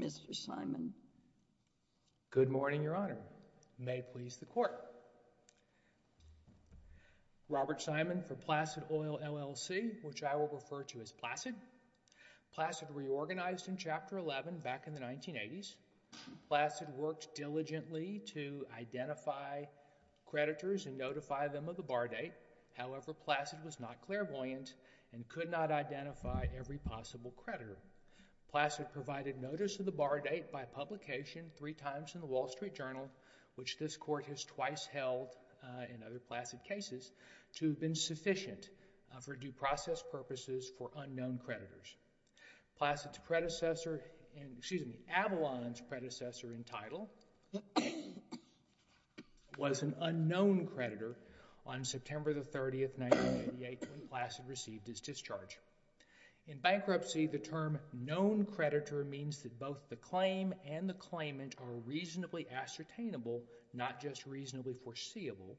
Mr. Simon. Good morning, Your Honor. May it please the Court. Robert Simon for Placid Oil, LLC, which I will refer to as Placid. Placid reorganized in Chapter 11 back in the 1980s. Placid worked diligently to identify creditors and notify them of the bar date. However, Placid was not clairvoyant and could not identify every possible creditor. Placid provided notice of the bar date by publication three times in the Wall Street Journal, which this Court has twice held in other Placid cases, to have been sufficient for due process purposes for unknown creditors. Avalon's predecessor in title was an unknown creditor on September 30, 1988, when Placid received his discharge. In bankruptcy, the term known creditor means that both the claim and the claimant are reasonably ascertainable, not just reasonably foreseeable.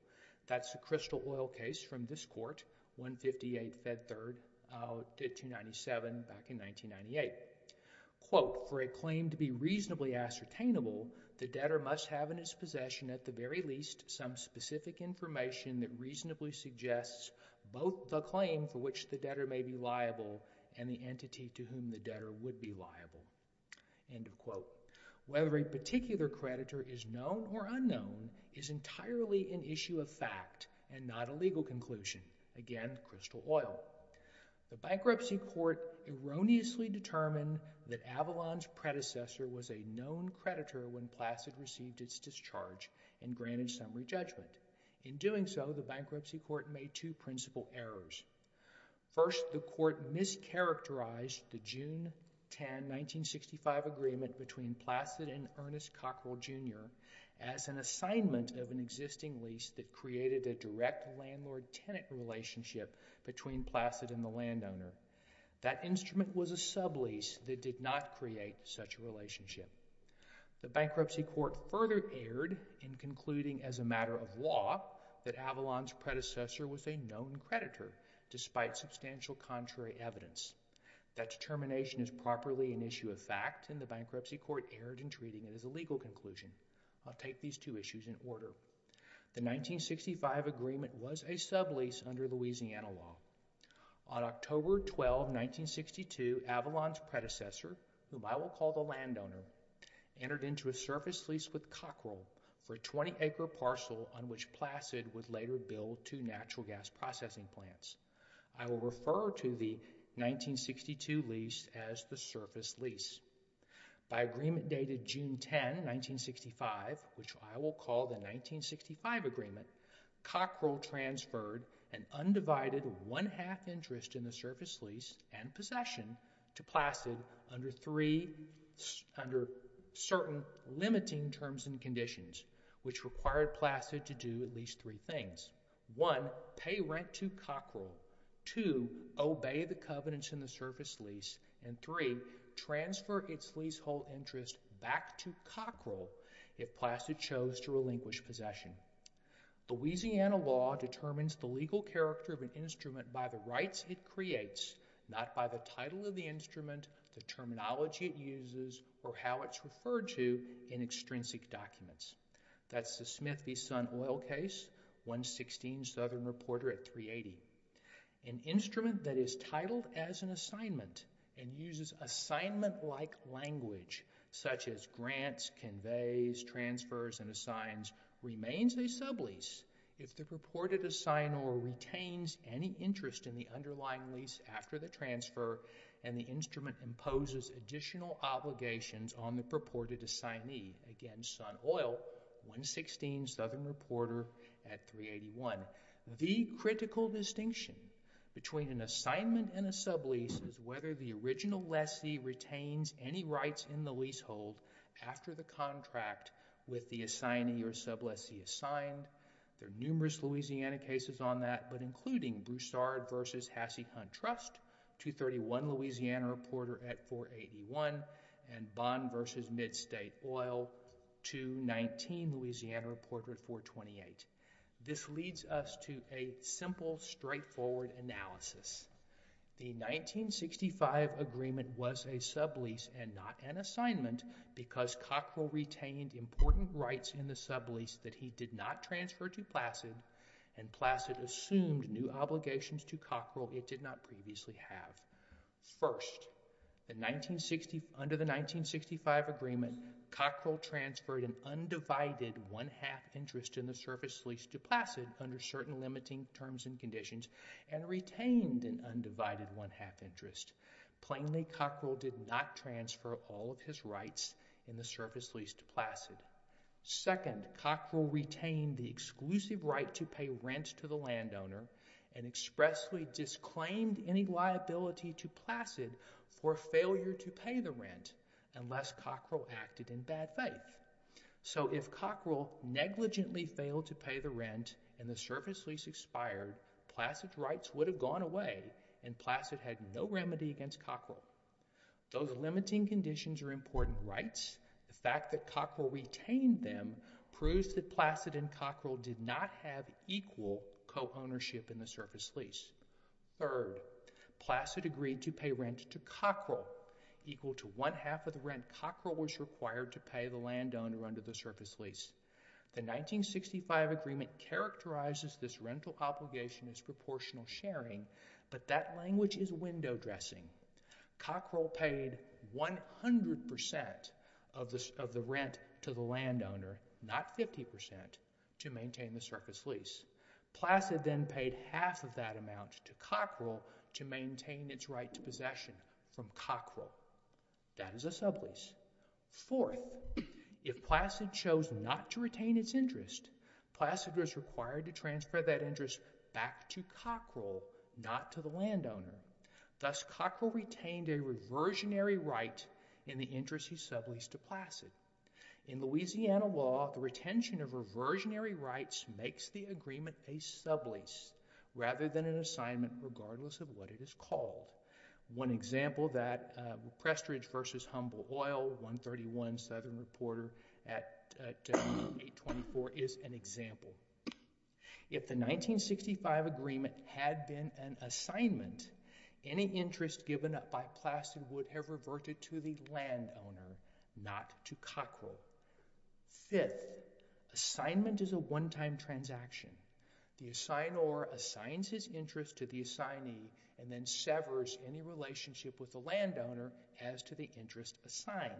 That's the Crystal Oil case from this Court, 158 Fed 3rd, 297, back in 1998. For a claim to be reasonably ascertainable, the debtor must have in his possession at the very least some specific information that reasonably suggests both the claim for which the debtor may be liable and the entity to whom the debtor would be liable. Whether a particular creditor is known or unknown is entirely an issue of fact and not a legal conclusion. Again, Crystal Oil. The Bankruptcy Court erroneously determined that Avalon's predecessor was a known creditor when Placid received its discharge and granted summary judgment. In doing so, the Bankruptcy Court made two principal errors. First, the Court mischaracterized the June 10, 1965 agreement between Placid and Ernest Cockrell, Jr. as an assignment of an existing lease that created a direct landlord-tenant relationship between Placid and the landowner. That instrument was a sublease that did not create such a relationship. The Bankruptcy Court further erred in concluding as a matter of law that Avalon's predecessor was a known creditor despite substantial contrary evidence. That determination is properly an issue of fact and the Bankruptcy Court erred in treating it as a legal conclusion. I'll take these two issues in order. The 1965 agreement was a sublease under Louisiana law. On October 12, 1962, Avalon's predecessor, whom I will call the landowner, entered into a service lease with Cockrell for a 20-acre parcel on which Placid would later build two natural gas processing plants. I will refer to the 1962 lease as the surface lease. By agreement dated June 10, 1965, which I will call the 1965 agreement, Cockrell transferred an undivided one-half interest in the surface lease and possession to Placid under certain limiting terms and conditions, which required Placid to do at least three things. One, pay rent to Cockrell. Two, obey the covenants in the surface lease. And three, transfer its leasehold interest back to Cockrell if Placid chose to relinquish possession. Louisiana law determines the legal character of an instrument by the rights it creates, not by the title of the instrument, the terminology it uses, or how it's referred to in extrinsic documents. That's the Smith v. Sun Oil case, 116 Southern Reporter at 380. An instrument that is titled as an assignment and uses assignment-like language, such as grants, conveys, transfers, and assigns, remains a sublease if the purported assignee retains any interest in the underlying lease after the transfer and the instrument imposes additional obligations on the purported assignee. Again, Sun Oil, 116 Southern Reporter at 381. The critical distinction between an assignment and a sublease is whether the original lessee retains any rights in the leasehold after the contract with the assignee or subleasee assigned. There are numerous Louisiana cases on that, but including Broussard v. Hassey Hunt Trust, 231 Louisiana Reporter at 481, and Bond v. Midstate Oil, 219 Louisiana Reporter at 428. This leads us to a simple, straightforward analysis. The 1965 agreement was a sublease and not an assignment because Cockrell retained important rights in the sublease that he did not transfer to Placid, and Placid assumed new obligations to Cockrell it did not previously have. First, under the 1965 agreement, Cockrell transferred an undivided one-half interest in the surface lease to Placid under certain limiting terms and conditions and retained an undivided one-half interest. Plainly, Cockrell did not transfer all of his rights in the surface lease to Placid. Second, Cockrell retained the exclusive right to pay rent to the landowner and expressly disclaimed any liability to Placid for failure to pay the rent unless Cockrell acted in bad faith. So, if Cockrell negligently failed to pay the rent and the surface lease expired, Placid's rights would have gone away and Placid had no remedy against Cockrell. Those limiting conditions are important rights. The fact that Cockrell retained them proves that Placid and Cockrell did not have equal co-ownership in the surface lease. Third, Placid agreed to pay rent to Cockrell. Equal to one-half of the rent, Cockrell was required to pay the landowner under the surface lease. The 1965 agreement characterizes this rental obligation as proportional sharing, but that language is window dressing. Cockrell paid 100% of the rent to the landowner, not 50%, to maintain the surface lease. Placid then paid half of that amount to Cockrell to maintain its right to possession from Cockrell. That is a sublease. Fourth, if Placid chose not to retain its interest, Placid was required to transfer that interest back to Cockrell, not to the landowner. Thus, Cockrell retained a reversionary right in the interest he subleased to Placid. In Louisiana law, the retention of reversionary rights makes the agreement a sublease rather than an assignment regardless of what it is called. One example that Prestridge v. Humble Oil, 131 Southern Reporter at 824, is an example. If the 1965 agreement had been an assignment, any interest given up by Placid would have reverted to the landowner, not to Cockrell. Fifth, assignment is a one-time transaction. The assignor assigns his interest to the assignee and then severs any relationship with the landowner as to the interest assigned.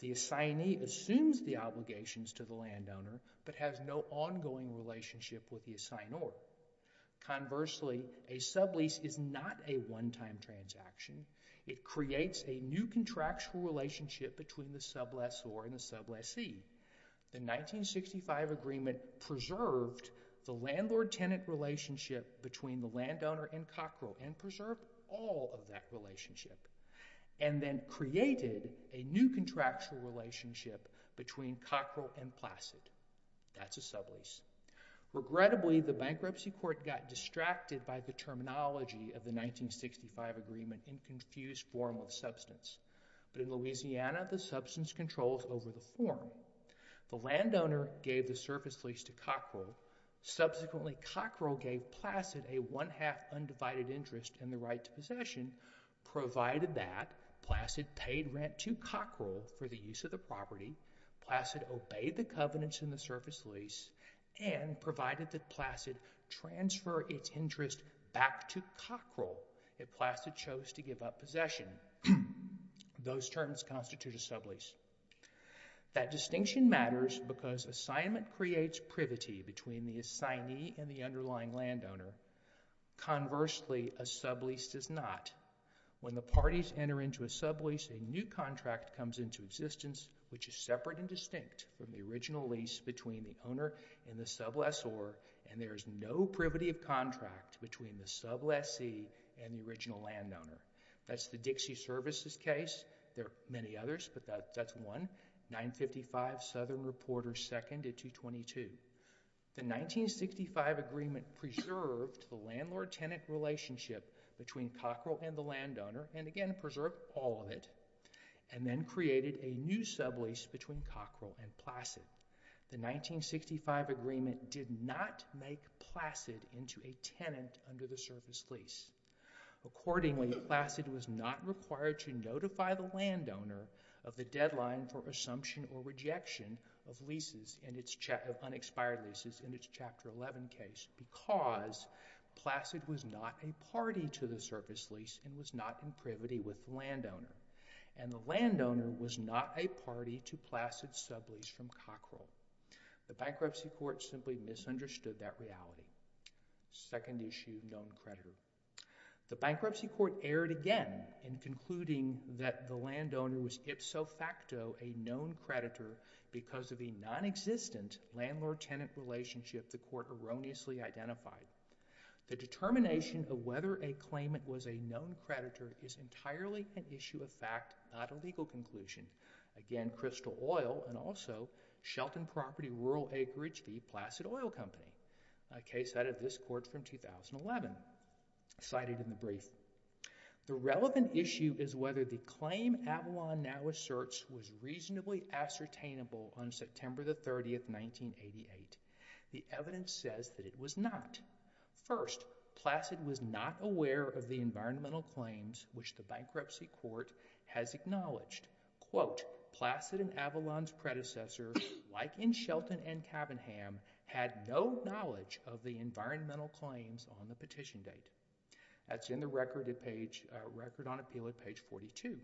The assignee assumes the obligations to the landowner but has no ongoing relationship with the assignor. Conversely, a sublease is not a one-time transaction. It creates a new contractual relationship between the sublessor and the sublessee. The 1965 agreement preserved the landlord-tenant relationship between the landowner and Cockrell and preserved all of that relationship and then created a new contractual relationship between Cockrell and Placid. That's a sublease. Regrettably, the bankruptcy court got distracted by the terminology of the 1965 agreement in confused form with substance. But in Louisiana, the substance controls over the form. The landowner gave the surface lease to Cockrell. Subsequently, Cockrell gave Placid a one-half undivided interest in the right to possession, provided that Placid paid rent to Cockrell for the use of the property, Placid obeyed the covenants in the surface lease, and provided that Placid transfer its interest back to Cockrell if Placid chose to give up possession. Those terms constitute a sublease. That distinction matters because assignment creates privity between the assignee and the underlying landowner. Conversely, a sublease does not. When the parties enter into a sublease, a new contract comes into existence which is separate and distinct from the original lease between the owner and the sublessor, and there is no privity of contract between the sublessee and the original landowner. That's the Dixie Services case. There are many others, but that's one. 955 Southern Reporter, seconded 222. The 1965 agreement preserved the landlord-tenant relationship between Cockrell and the landowner, and again, preserved all of it, and then created a new sublease between Cockrell and Placid. The 1965 agreement did not make Placid into a tenant under the surface lease. Accordingly, Placid was not required to notify the landowner of the deadline for assumption or rejection of unexpired leases in its Chapter 11 case because Placid was not a party to the surface lease and was not in privity with the landowner, and the landowner was not a party to Placid's sublease from Cockrell. The bankruptcy court simply misunderstood that reality. Second issue, known creditor. The bankruptcy court erred again in concluding that the landowner was ipso facto a known creditor because of a non-existent landlord-tenant relationship the court erroneously identified. The determination of whether a claimant was a known creditor is entirely an issue of fact, not a legal conclusion. Again, Crystal Oil and also Shelton Property Rural Acreage v. Placid Oil Company. A case out of this court from 2011, cited in the brief. The relevant issue is whether the claim Avalon now asserts was reasonably ascertainable on September 30, 1988. The evidence says that it was not. First, Placid was not aware of the environmental claims which the bankruptcy court has acknowledged. Quote, Placid and Avalon's predecessor, like in Shelton and Cabinham, had no knowledge of the environmental claims on the petition date. That's in the Record on Appeal at page 42.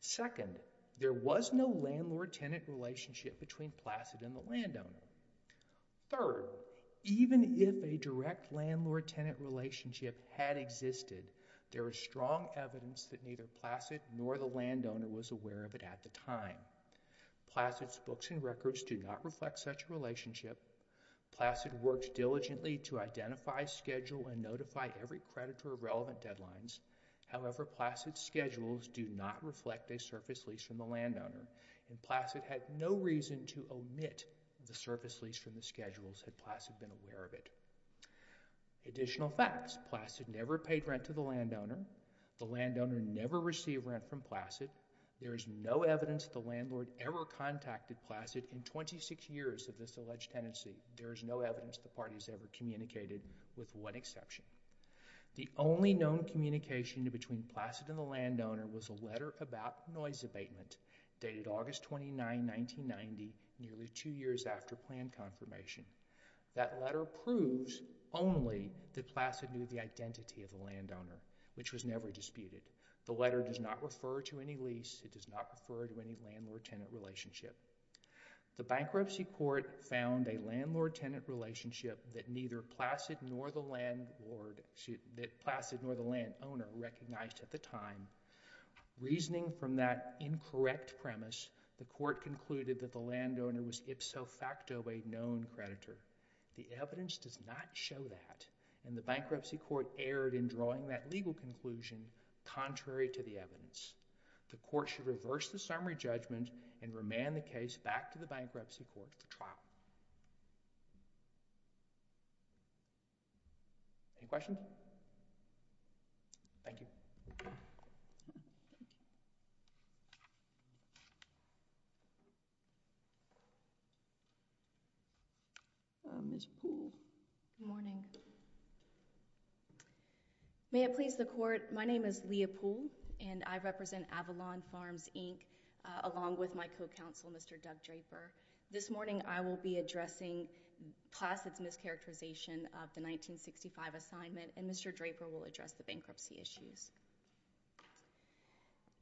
Second, there was no landlord-tenant relationship between Placid and the landowner. Third, even if a direct landlord-tenant relationship had existed, there is strong evidence that neither Placid nor the landowner was aware of it at the time. Placid's books and records do not reflect such a relationship. Placid worked diligently to identify, schedule, and notify every creditor of relevant deadlines. However, Placid's schedules do not reflect a surface lease from the landowner. Placid had no reason to omit the surface lease from the schedules had Placid been aware of it. Additional facts. Placid never paid rent to the landowner. The landowner never received rent from Placid. There is no evidence the landlord ever contacted Placid in 26 years of this alleged tenancy. There is no evidence the parties ever communicated with one exception. The only known communication between Placid and the landowner was a letter about noise abatement dated August 29, 1990, nearly two years after plan confirmation. That letter proves only that Placid knew the identity of the landowner, which was never disputed. The letter does not refer to any lease. It does not refer to any landlord-tenant relationship. The bankruptcy court found a landlord-tenant relationship that neither Placid nor the landowner recognized at the time. Reasoning from that incorrect premise, the court concluded that the landowner was ipso The evidence does not show that, and the bankruptcy court erred in drawing that legal conclusion contrary to the evidence. The court should reverse the summary judgment and remand the case back to the bankruptcy court for trial. Any questions? Thank you. Ms. Poole. Good morning. May it please the Court, my name is Leah Poole, and I represent Avalon Farms, Inc., along with my co-counsel, Mr. Doug Draper. This morning, I will be addressing Placid's mischaracterization of the 1965 assignment, and Mr. Draper will address the bankruptcy issues.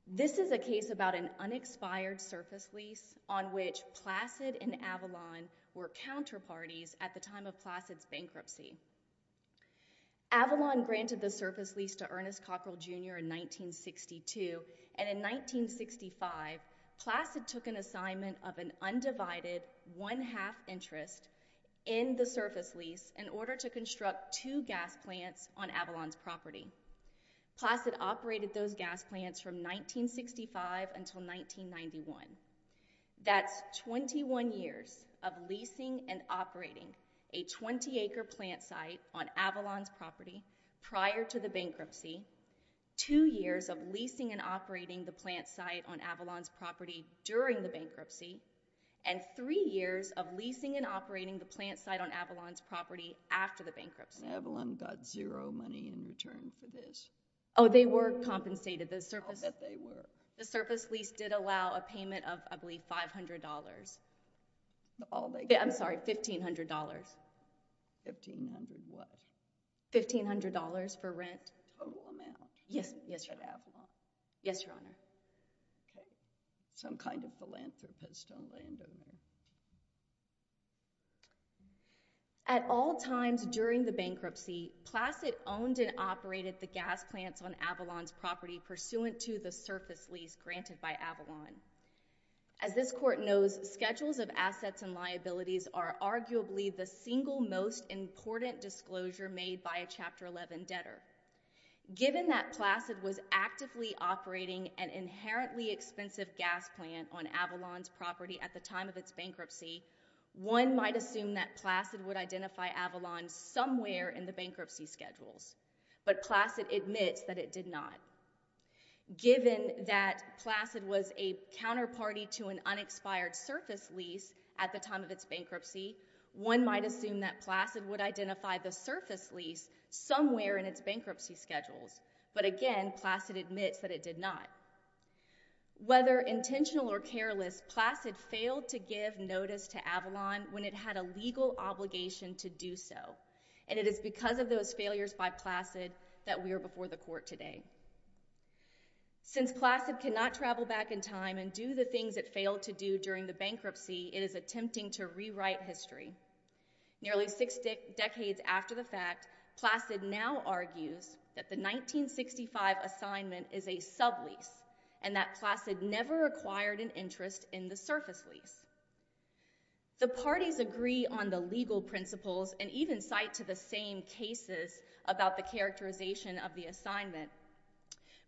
This is a case about an unexpired surface lease on which Placid and Avalon were counterparties at the time of Placid's bankruptcy. Avalon granted the surface lease to Ernest Cockrell, Jr. in 1962, and in 1965, Placid took an assignment of an undivided one-half interest in the surface lease in order to construct two gas plants on Avalon's property. Placid operated those gas plants from 1965 until 1991. That's 21 years of leasing and operating a 20-acre plant site on Avalon's property prior to the bankruptcy, two years of leasing and operating the plant site on Avalon's property during the bankruptcy, and three years of leasing and operating the plant site on Avalon's property after the bankruptcy. And Avalon got zero money in return for this? Oh, they were compensated. I'll bet they were. The surface lease did allow a payment of, I believe, $500. I'm sorry, $1,500. $1,500 what? $1,500 for rent. Total amount? Yes, yes, Your Honor. For Avalon? Yes, Your Honor. Okay. Some kind of philanthropist on land ownership. At all times during the bankruptcy, Placid owned and operated the gas plants on Avalon's property pursuant to the surface lease granted by Avalon. As this Court knows, schedules of assets and liabilities are arguably the single most important disclosure made by a Chapter 11 debtor. Given that Placid was actively operating an inherently expensive gas plant on Avalon's property at the time of its bankruptcy, one might assume that Placid would identify Avalon somewhere in the bankruptcy schedules, but Placid admits that it did not. Given that Placid was a counterparty to an unexpired surface lease at the time of its bankruptcy, one might assume that Placid would identify the surface lease somewhere in its bankruptcy schedules, but again, Placid admits that it did not. Whether intentional or careless, Placid failed to give notice to Avalon when it had a legal obligation to do so, and it is because of those failures by Placid that we are before the Court today. Since Placid cannot travel back in time and do the things it failed to do during the bankruptcy, it is attempting to rewrite history. Nearly six decades after the fact, Placid now argues that the 1965 assignment is a sublease and that Placid never acquired an interest in the surface lease. The parties agree on the legal principles and even cite to the same cases about the characterization of the assignment,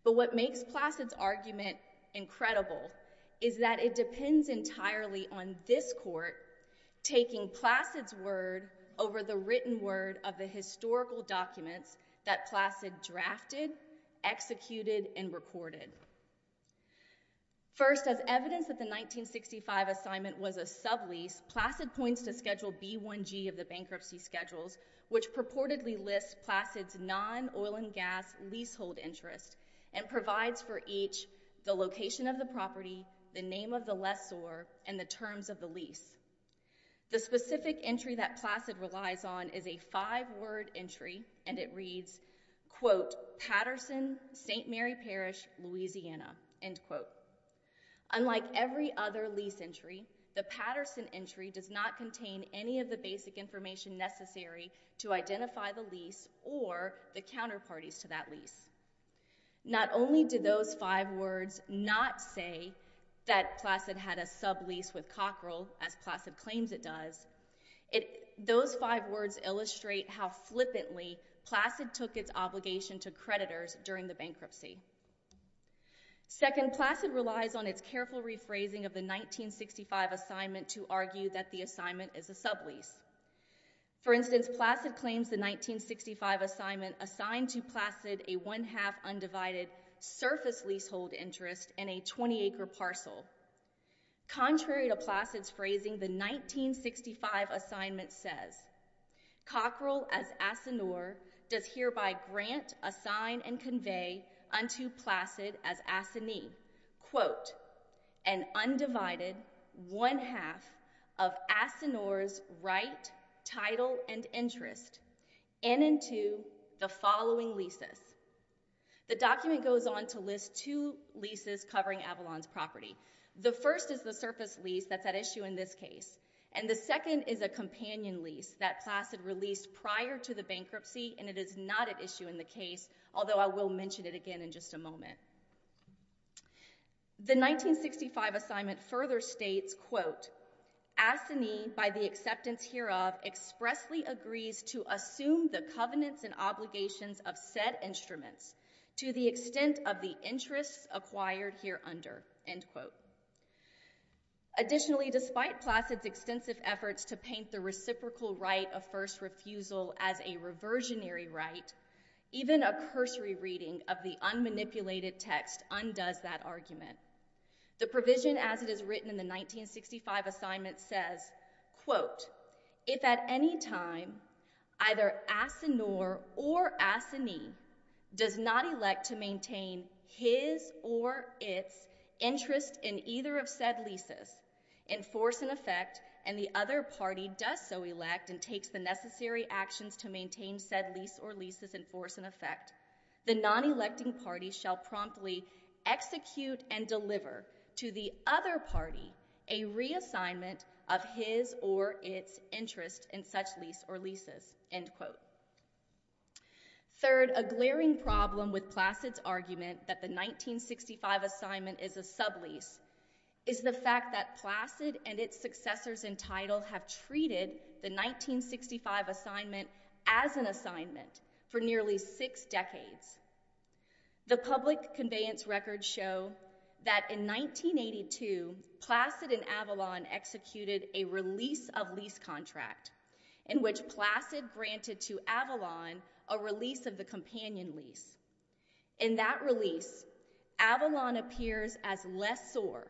but what makes Placid's argument incredible is that it depends entirely on this Court taking Placid's word over the written word of the historical documents that Placid drafted, executed, and recorded. First, as evidence that the 1965 assignment was a sublease, Placid points to Schedule B-1G of the bankruptcy schedules, which purportedly lists Placid's non-oil and gas leasehold interest and provides for each the location of the property, the name of the lessor, and the terms of the lease. The specific entry that Placid relies on is a five-word entry, and it reads, quote, Patterson, St. Mary Parish, Louisiana, end quote. Unlike every other lease entry, the Patterson entry does not contain any of the basic information necessary to identify the lease or the counterparties to that lease. Not only do those five words not say that Placid had a sublease with Cockrell, as Placid claims it does, those five words illustrate how flippantly Placid took its obligation to creditors during the bankruptcy. Second, Placid relies on its careful rephrasing of the 1965 assignment to argue that the assignment is a sublease. For instance, Placid claims the 1965 assignment assigned to Placid a one-half undivided surface leasehold interest in a 20-acre parcel. Contrary to Placid's phrasing, the 1965 assignment says, Cockrell, as Asinor, does hereby grant, assign, and convey unto Placid as Asinor, quote, an undivided one-half of Asinor's right, title, and interest in and to the following leases. The document goes on to list two leases covering Avalon's property. The first is the surface lease that's at issue in this case, and the second is a companion lease that Placid released prior to the bankruptcy, and it is not at issue in the case, although I will mention it again in just a moment. The 1965 assignment further states, quote, Asinor, by the acceptance hereof, expressly agrees to assume the covenants and obligations of said instruments to the extent of the interests acquired hereunder, end quote. Additionally, despite Placid's extensive efforts to paint the reciprocal right of first refusal as a reversionary right, even a cursory reading of the unmanipulated text undoes that argument. The provision as it is written in the 1965 assignment says, quote, if at any time either Asinor or Asinee does not elect to maintain his or its interest in either of said leases in force and effect, and the other party does so elect and takes the necessary actions to maintain said lease or leases in force and effect, the non-electing party shall promptly execute and deliver to the other party a reassignment of his or its interest in such lease or leases, end quote. Third, a glaring problem with Placid's argument that the 1965 assignment is a sublease is the fact that Placid and its successors in title have treated the 1965 assignment as an assignment for nearly six decades. The public conveyance records show that in 1982, Placid and Avalon executed a release of lease contract in which Placid granted to Avalon a release of the companion lease. In that release, Avalon appears as lessor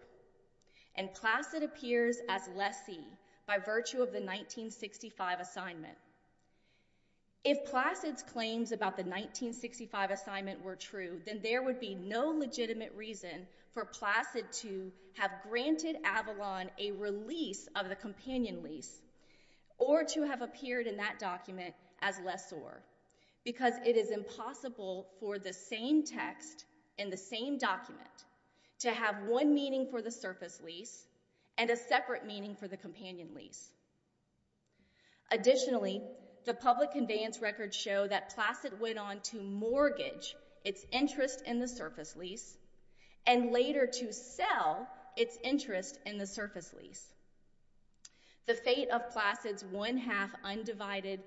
and Placid appears as lessee by virtue of the 1965 assignment. If Placid's claims about the 1965 assignment were true, then there would be no legitimate reason for Placid to have granted Avalon a release of the companion lease or to have appeared in that document as lessor because it is impossible for the same text in the same document to have one meaning for the surface lease and a separate meaning for the companion lease. Additionally, the public conveyance records show that Placid went on to mortgage its interest in the surface lease and later to sell its interest in the surface lease. The fate of Placid's one-half undivided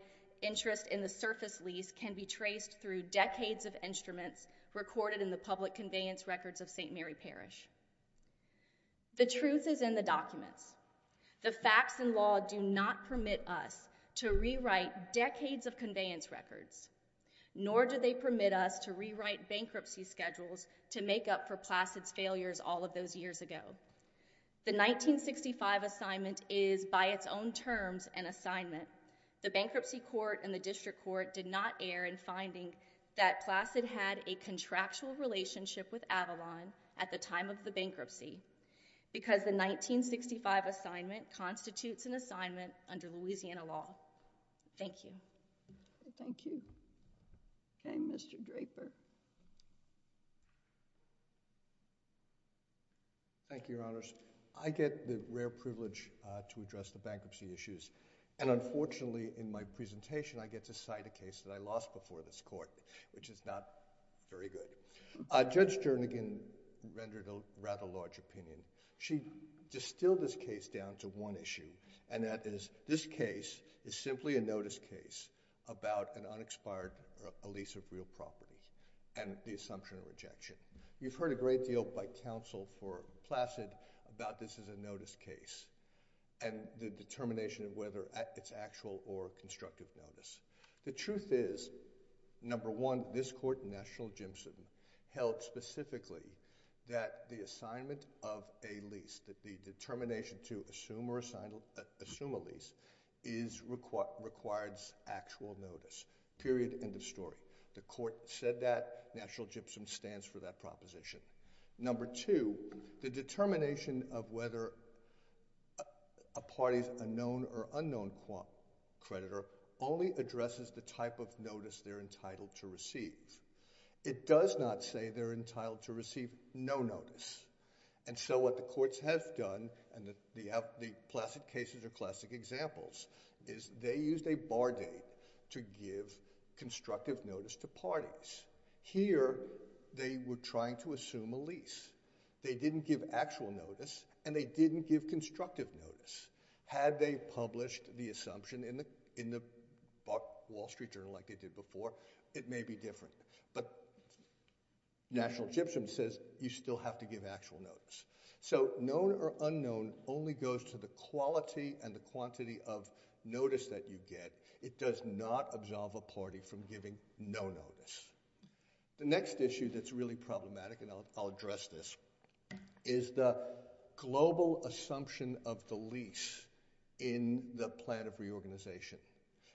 interest in the surface lease can be traced through decades of instruments recorded in the public conveyance records of St. Mary Parish. The truth is in the documents. The facts and law do not permit us to rewrite decades of conveyance records, nor do they permit us to rewrite bankruptcy schedules to make up for Placid's failures all of those years ago. The 1965 assignment is by its own terms an assignment. The Bankruptcy Court and the District Court did not err in finding that Placid had a contractual relationship with Avalon at the time of the bankruptcy because the 1965 assignment constitutes an assignment under Louisiana law. Thank you. Okay, Mr. Draper. Thank you, Your Honors. I get the rare privilege to address the bankruptcy issues and unfortunately in my presentation, I get to cite a case that I lost before this court, which is not very good. Judge Jernigan rendered a rather large opinion. She distilled this case down to one issue and that is this case is simply a notice case about an unexpired lease of real property and the assumption of rejection. You've heard a great deal by counsel for Placid about this as a notice case and the determination of whether it's actual or constructive notice. The truth is, number one, this court, National Gypsum, held specifically that the assignment of a lease, that the determination to assume a lease, requires actual notice, period, end of story. The court said that, National Gypsum stands for that proposition. Number two, the determination of whether a party's a known or unknown creditor only addresses the type of notice they're entitled to receive. It does not say they're entitled to receive no notice. And so what the courts have done, and the Placid cases are classic examples, is they used a bar date to give constructive notice to parties. Here, they were trying to assume a lease. They didn't give actual notice and they didn't give constructive notice. Had they published the assumption in the Wall Street Journal like they did before, it may be different. But National Gypsum says you still have to give actual notice. So known or unknown only goes to the quality and the quantity of notice that you get. It does not absolve a party from giving no notice. The next issue that's really problematic, and I'll address this, is the global assumption of the lease in the plan of reorganization.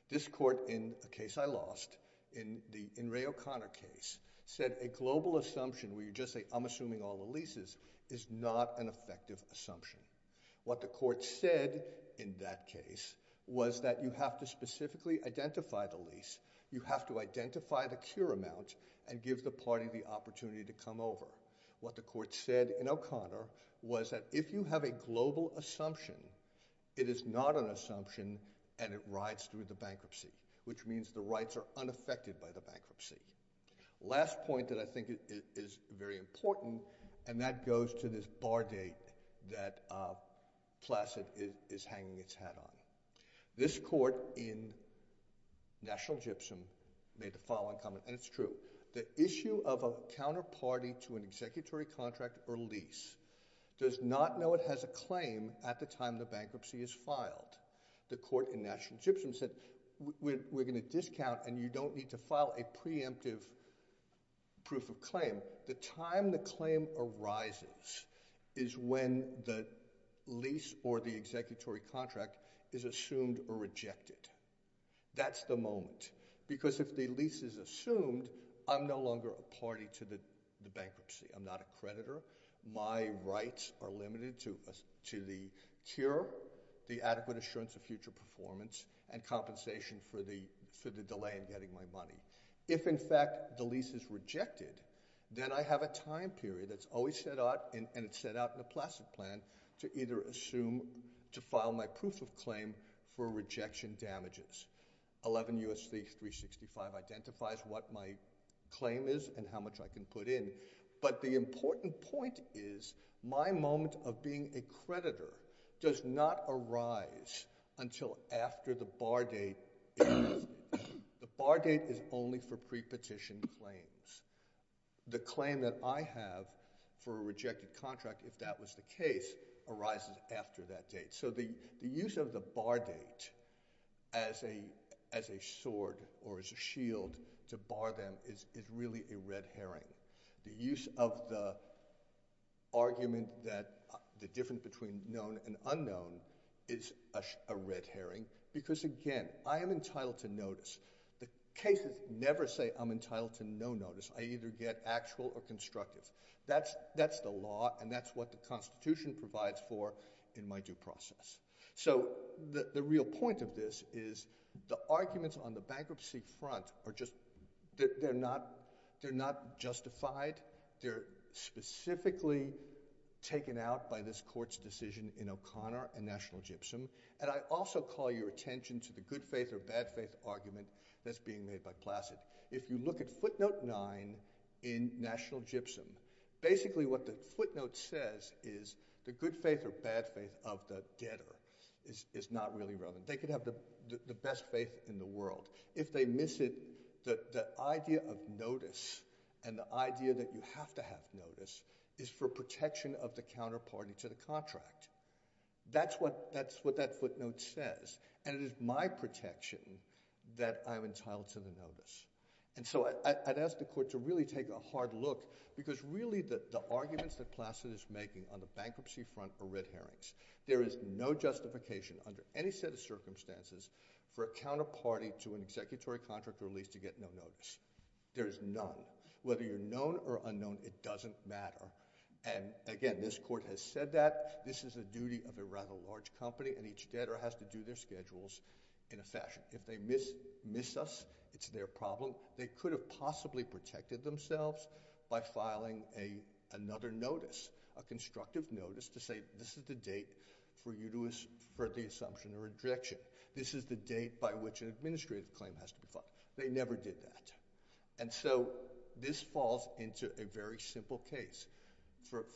This court, in a case I lost, in the Ray O'Connor case, said a global assumption where you just say, I'm assuming all the leases, is not an effective assumption. What the court said in that case was that you have to specifically identify the lease. You have to identify the cure amount and give the party the opportunity to come over. What the court said in O'Connor was that if you have a global assumption, it is not an assumption and it rides through the bankruptcy, which means the rights are unaffected by the bankruptcy. Last point that I think is very important, and that goes to this bar date that Placid is hanging its hat on. This court in National Gypsum made the following comment, and it's true. The issue of a counterparty to an executory contract or lease does not know it has a claim at the time the bankruptcy is filed. The court in National Gypsum said, we're going to discount and you don't need to file a preemptive proof of claim. The time the claim arises is when the lease or the executory contract is assumed or rejected. That's the moment. Because if the lease is assumed, I'm no longer a party to the bankruptcy, I'm not a creditor. My rights are limited to the cure, the adequate assurance of future performance, and compensation for the delay in getting my money. If in fact the lease is rejected, then I have a time period that's always set out, and it's set out in the Placid plan, to either assume, to file my proof of claim for rejection damages. 11 U.S.C. 365 identifies what my claim is and how much I can put in. But the important point is, my moment of being a creditor does not arise until after the bar date is... The bar date is only for pre-petition claims. The claim that I have for a rejected contract, if that was the case, arises after that date. So the use of the bar date as a sword or as a shield to bar them is really a red herring. The use of the argument that the difference between known and unknown is a red herring. Because again, I am entitled to notice. The cases never say I'm entitled to no notice. I either get actual or constructive. That's the law, and that's what the Constitution provides for in my due process. So the real point of this is, the arguments on the bankruptcy front are just... They're not justified. They're specifically taken out by this court's decision in O'Connor and National Gypsum. And I also call your attention to the good faith or bad faith argument that's being made by Placid. If you look at footnote nine in National Gypsum, basically what the footnote says is the good faith or bad faith of the debtor is not really relevant. They could have the best faith in the world. If they miss it, the idea of notice and the idea that you have to have notice is for protection of the counterparty to the contract. That's what that footnote says, and it is my protection that I'm entitled to the notice. And so I'd ask the court to really take a hard look, because really the arguments that Placid is making on the bankruptcy front are red herrings. There is no justification under any set of circumstances for a counterparty to an executory contract or lease to get no notice. There is none. Whether you're known or unknown, it doesn't matter. And again, this court has said that. This is a duty of a rather large company, and each debtor has to do their schedules in a fashion. If they miss us, it's their problem. They could have possibly protected themselves by filing another notice, a constructive notice to say, this is the date for you to assert the assumption of rejection. This is the date by which an administrative claim has to be filed. They never did that. And so this falls into a very simple case.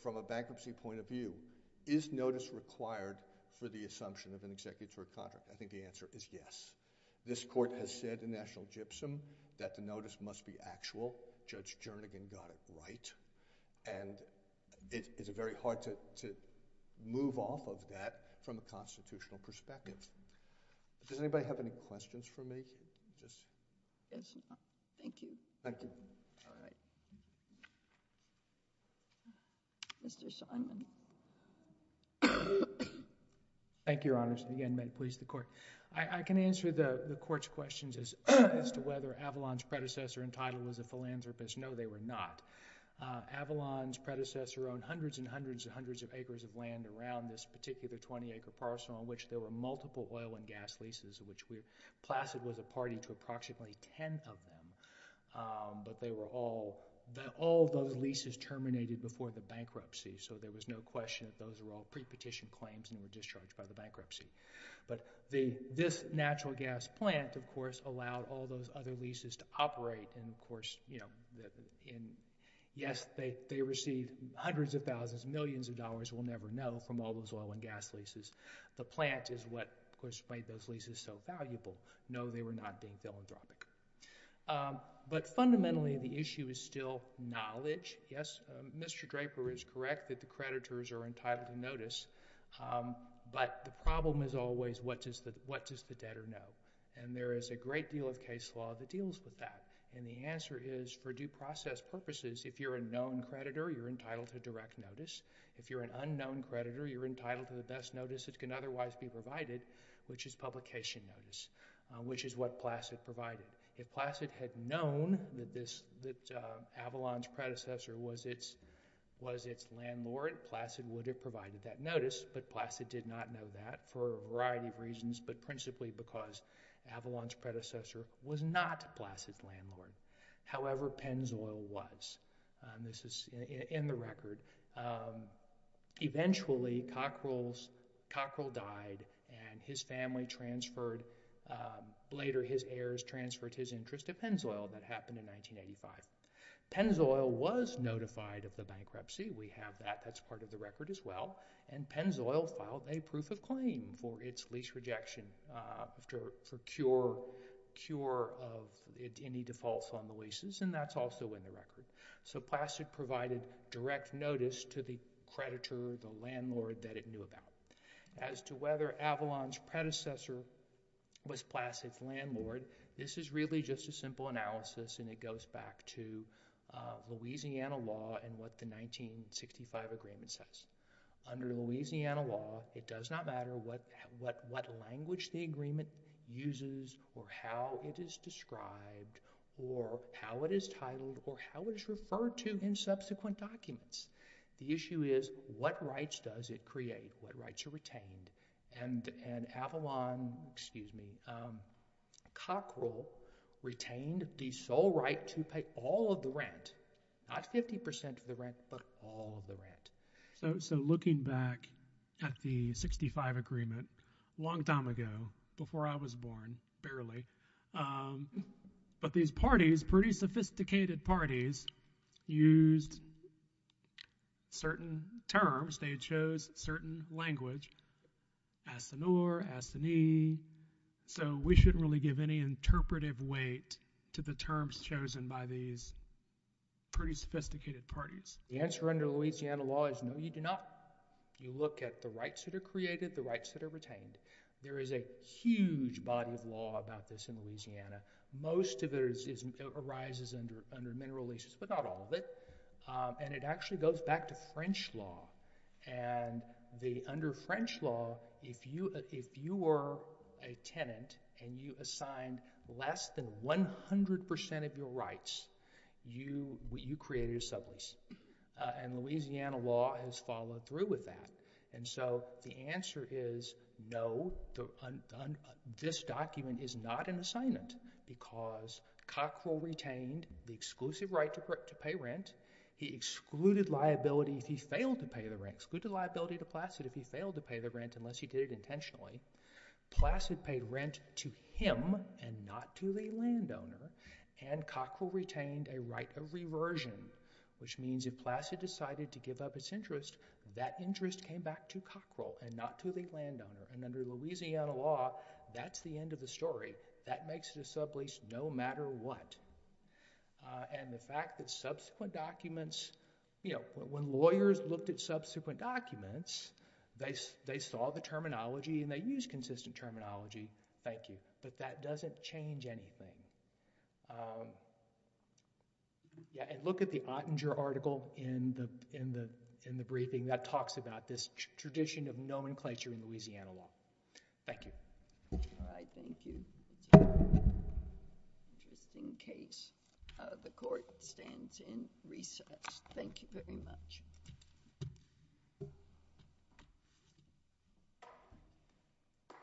From a bankruptcy point of view, is notice required for the assumption of an executory contract? I think the answer is yes. This court has said in National Gypsum that the notice must be actual. Judge Jernigan got it right. And it is very hard to move off of that from a constitutional perspective. Does anybody have any questions for me? Just... Yes, Your Honor. Thank you. Thank you. All right. Mr. Scheinman. Thank you, Your Honors. And again, may it please the Court. I can answer the Court's questions as to whether Avalon's predecessor entitled was a philanthropist. No, they were not. Avalon's predecessor owned hundreds and hundreds and hundreds of acres of land around this particular 20-acre parcel in which there were multiple oil and gas leases, in which Placid was a party to approximately 10 of them. But they were all... all those leases terminated before the bankruptcy. So there was no question that those were all pre-petition claims and were discharged by the bankruptcy. But this natural gas plant, of course, allowed all those other leases to operate. And, of course, yes, they received hundreds of thousands, millions of dollars, we'll never know, from all those oil and gas leases. The plant is what, of course, made those leases so valuable. No, they were not being philanthropic. But fundamentally, the issue is still knowledge. Yes, Mr. Draper is correct that the creditors are entitled to notice. But the problem is always, what does the debtor know? And there is a great deal of case law that deals with that, and the answer is, for due process purposes, if you're a known creditor, you're entitled to direct notice. If you're an unknown creditor, you're entitled to the best notice that can otherwise be provided, which is publication notice, which is what Placid provided. If Placid had known that Avalon's predecessor was its landlord, Placid would have provided that notice, but Placid did not know that, for a variety of reasons, but principally because Avalon's predecessor was not Placid's landlord. However, Pennzoil was, and this is in the record. Eventually, Cockrell died, and his family transferred, later his heirs transferred his interest to Pennzoil, that happened in 1985. Pennzoil was notified of the bankruptcy. We have that. That's part of the record as well, and Pennzoil filed a proof of claim for its lease rejection, for cure of any defaults on the leases, and that's also in the record. So Placid provided direct notice to the creditor, the landlord, that it knew about. As to whether Avalon's predecessor was Placid's landlord, this is really just a simple analysis and it goes back to Louisiana law and what the 1965 agreement says. Under Louisiana law, it does not matter what language the agreement uses or how it is described or how it is titled or how it is referred to in subsequent documents. The issue is what rights does it create, what rights are retained, and Avalon, excuse me, Cockrell retained the sole right to pay all of the rent, not 50% of the rent, but all of the rent. So looking back at the 1965 agreement, a long time ago, before I was born, barely, but these parties, pretty sophisticated parties, used certain terms, they chose certain language, asinur, asini, so we shouldn't really give any interpretive weight to the terms chosen by these pretty sophisticated parties. The answer under Louisiana law is no, you do not. You look at the rights that are created, the rights that are retained. There is a huge body of law about this in Louisiana. Most of it arises under mineral leases, but not all of it, and it actually goes back to French law, and under French law, if you were a tenant and you assigned less than 100% of your rights, you created a sublease, and Louisiana law has followed through with that, and so the answer is no, this document is not an assignment because Cockrell retained the exclusive right to pay rent, he excluded liability if he failed to pay the rent, excluded liability to Placid if he failed to pay the rent unless he did it intentionally, Placid paid rent to him and not to the landowner, and Cockrell retained a right of reversion, which means if Placid decided to give up his interest, that interest came back to Cockrell and not to the landowner, and under Louisiana law, that's the end of the story. That makes it a sublease no matter what, and the fact that subsequent documents, you know, when lawyers looked at subsequent documents, they saw the terminology and they used consistent terminology, thank you, but that doesn't change anything. Look at the Ottinger article in the briefing that talks about this tradition of nomenclature in Louisiana law. Thank you. All right, thank you. Interesting case. The court stands in recess. Thank you very much.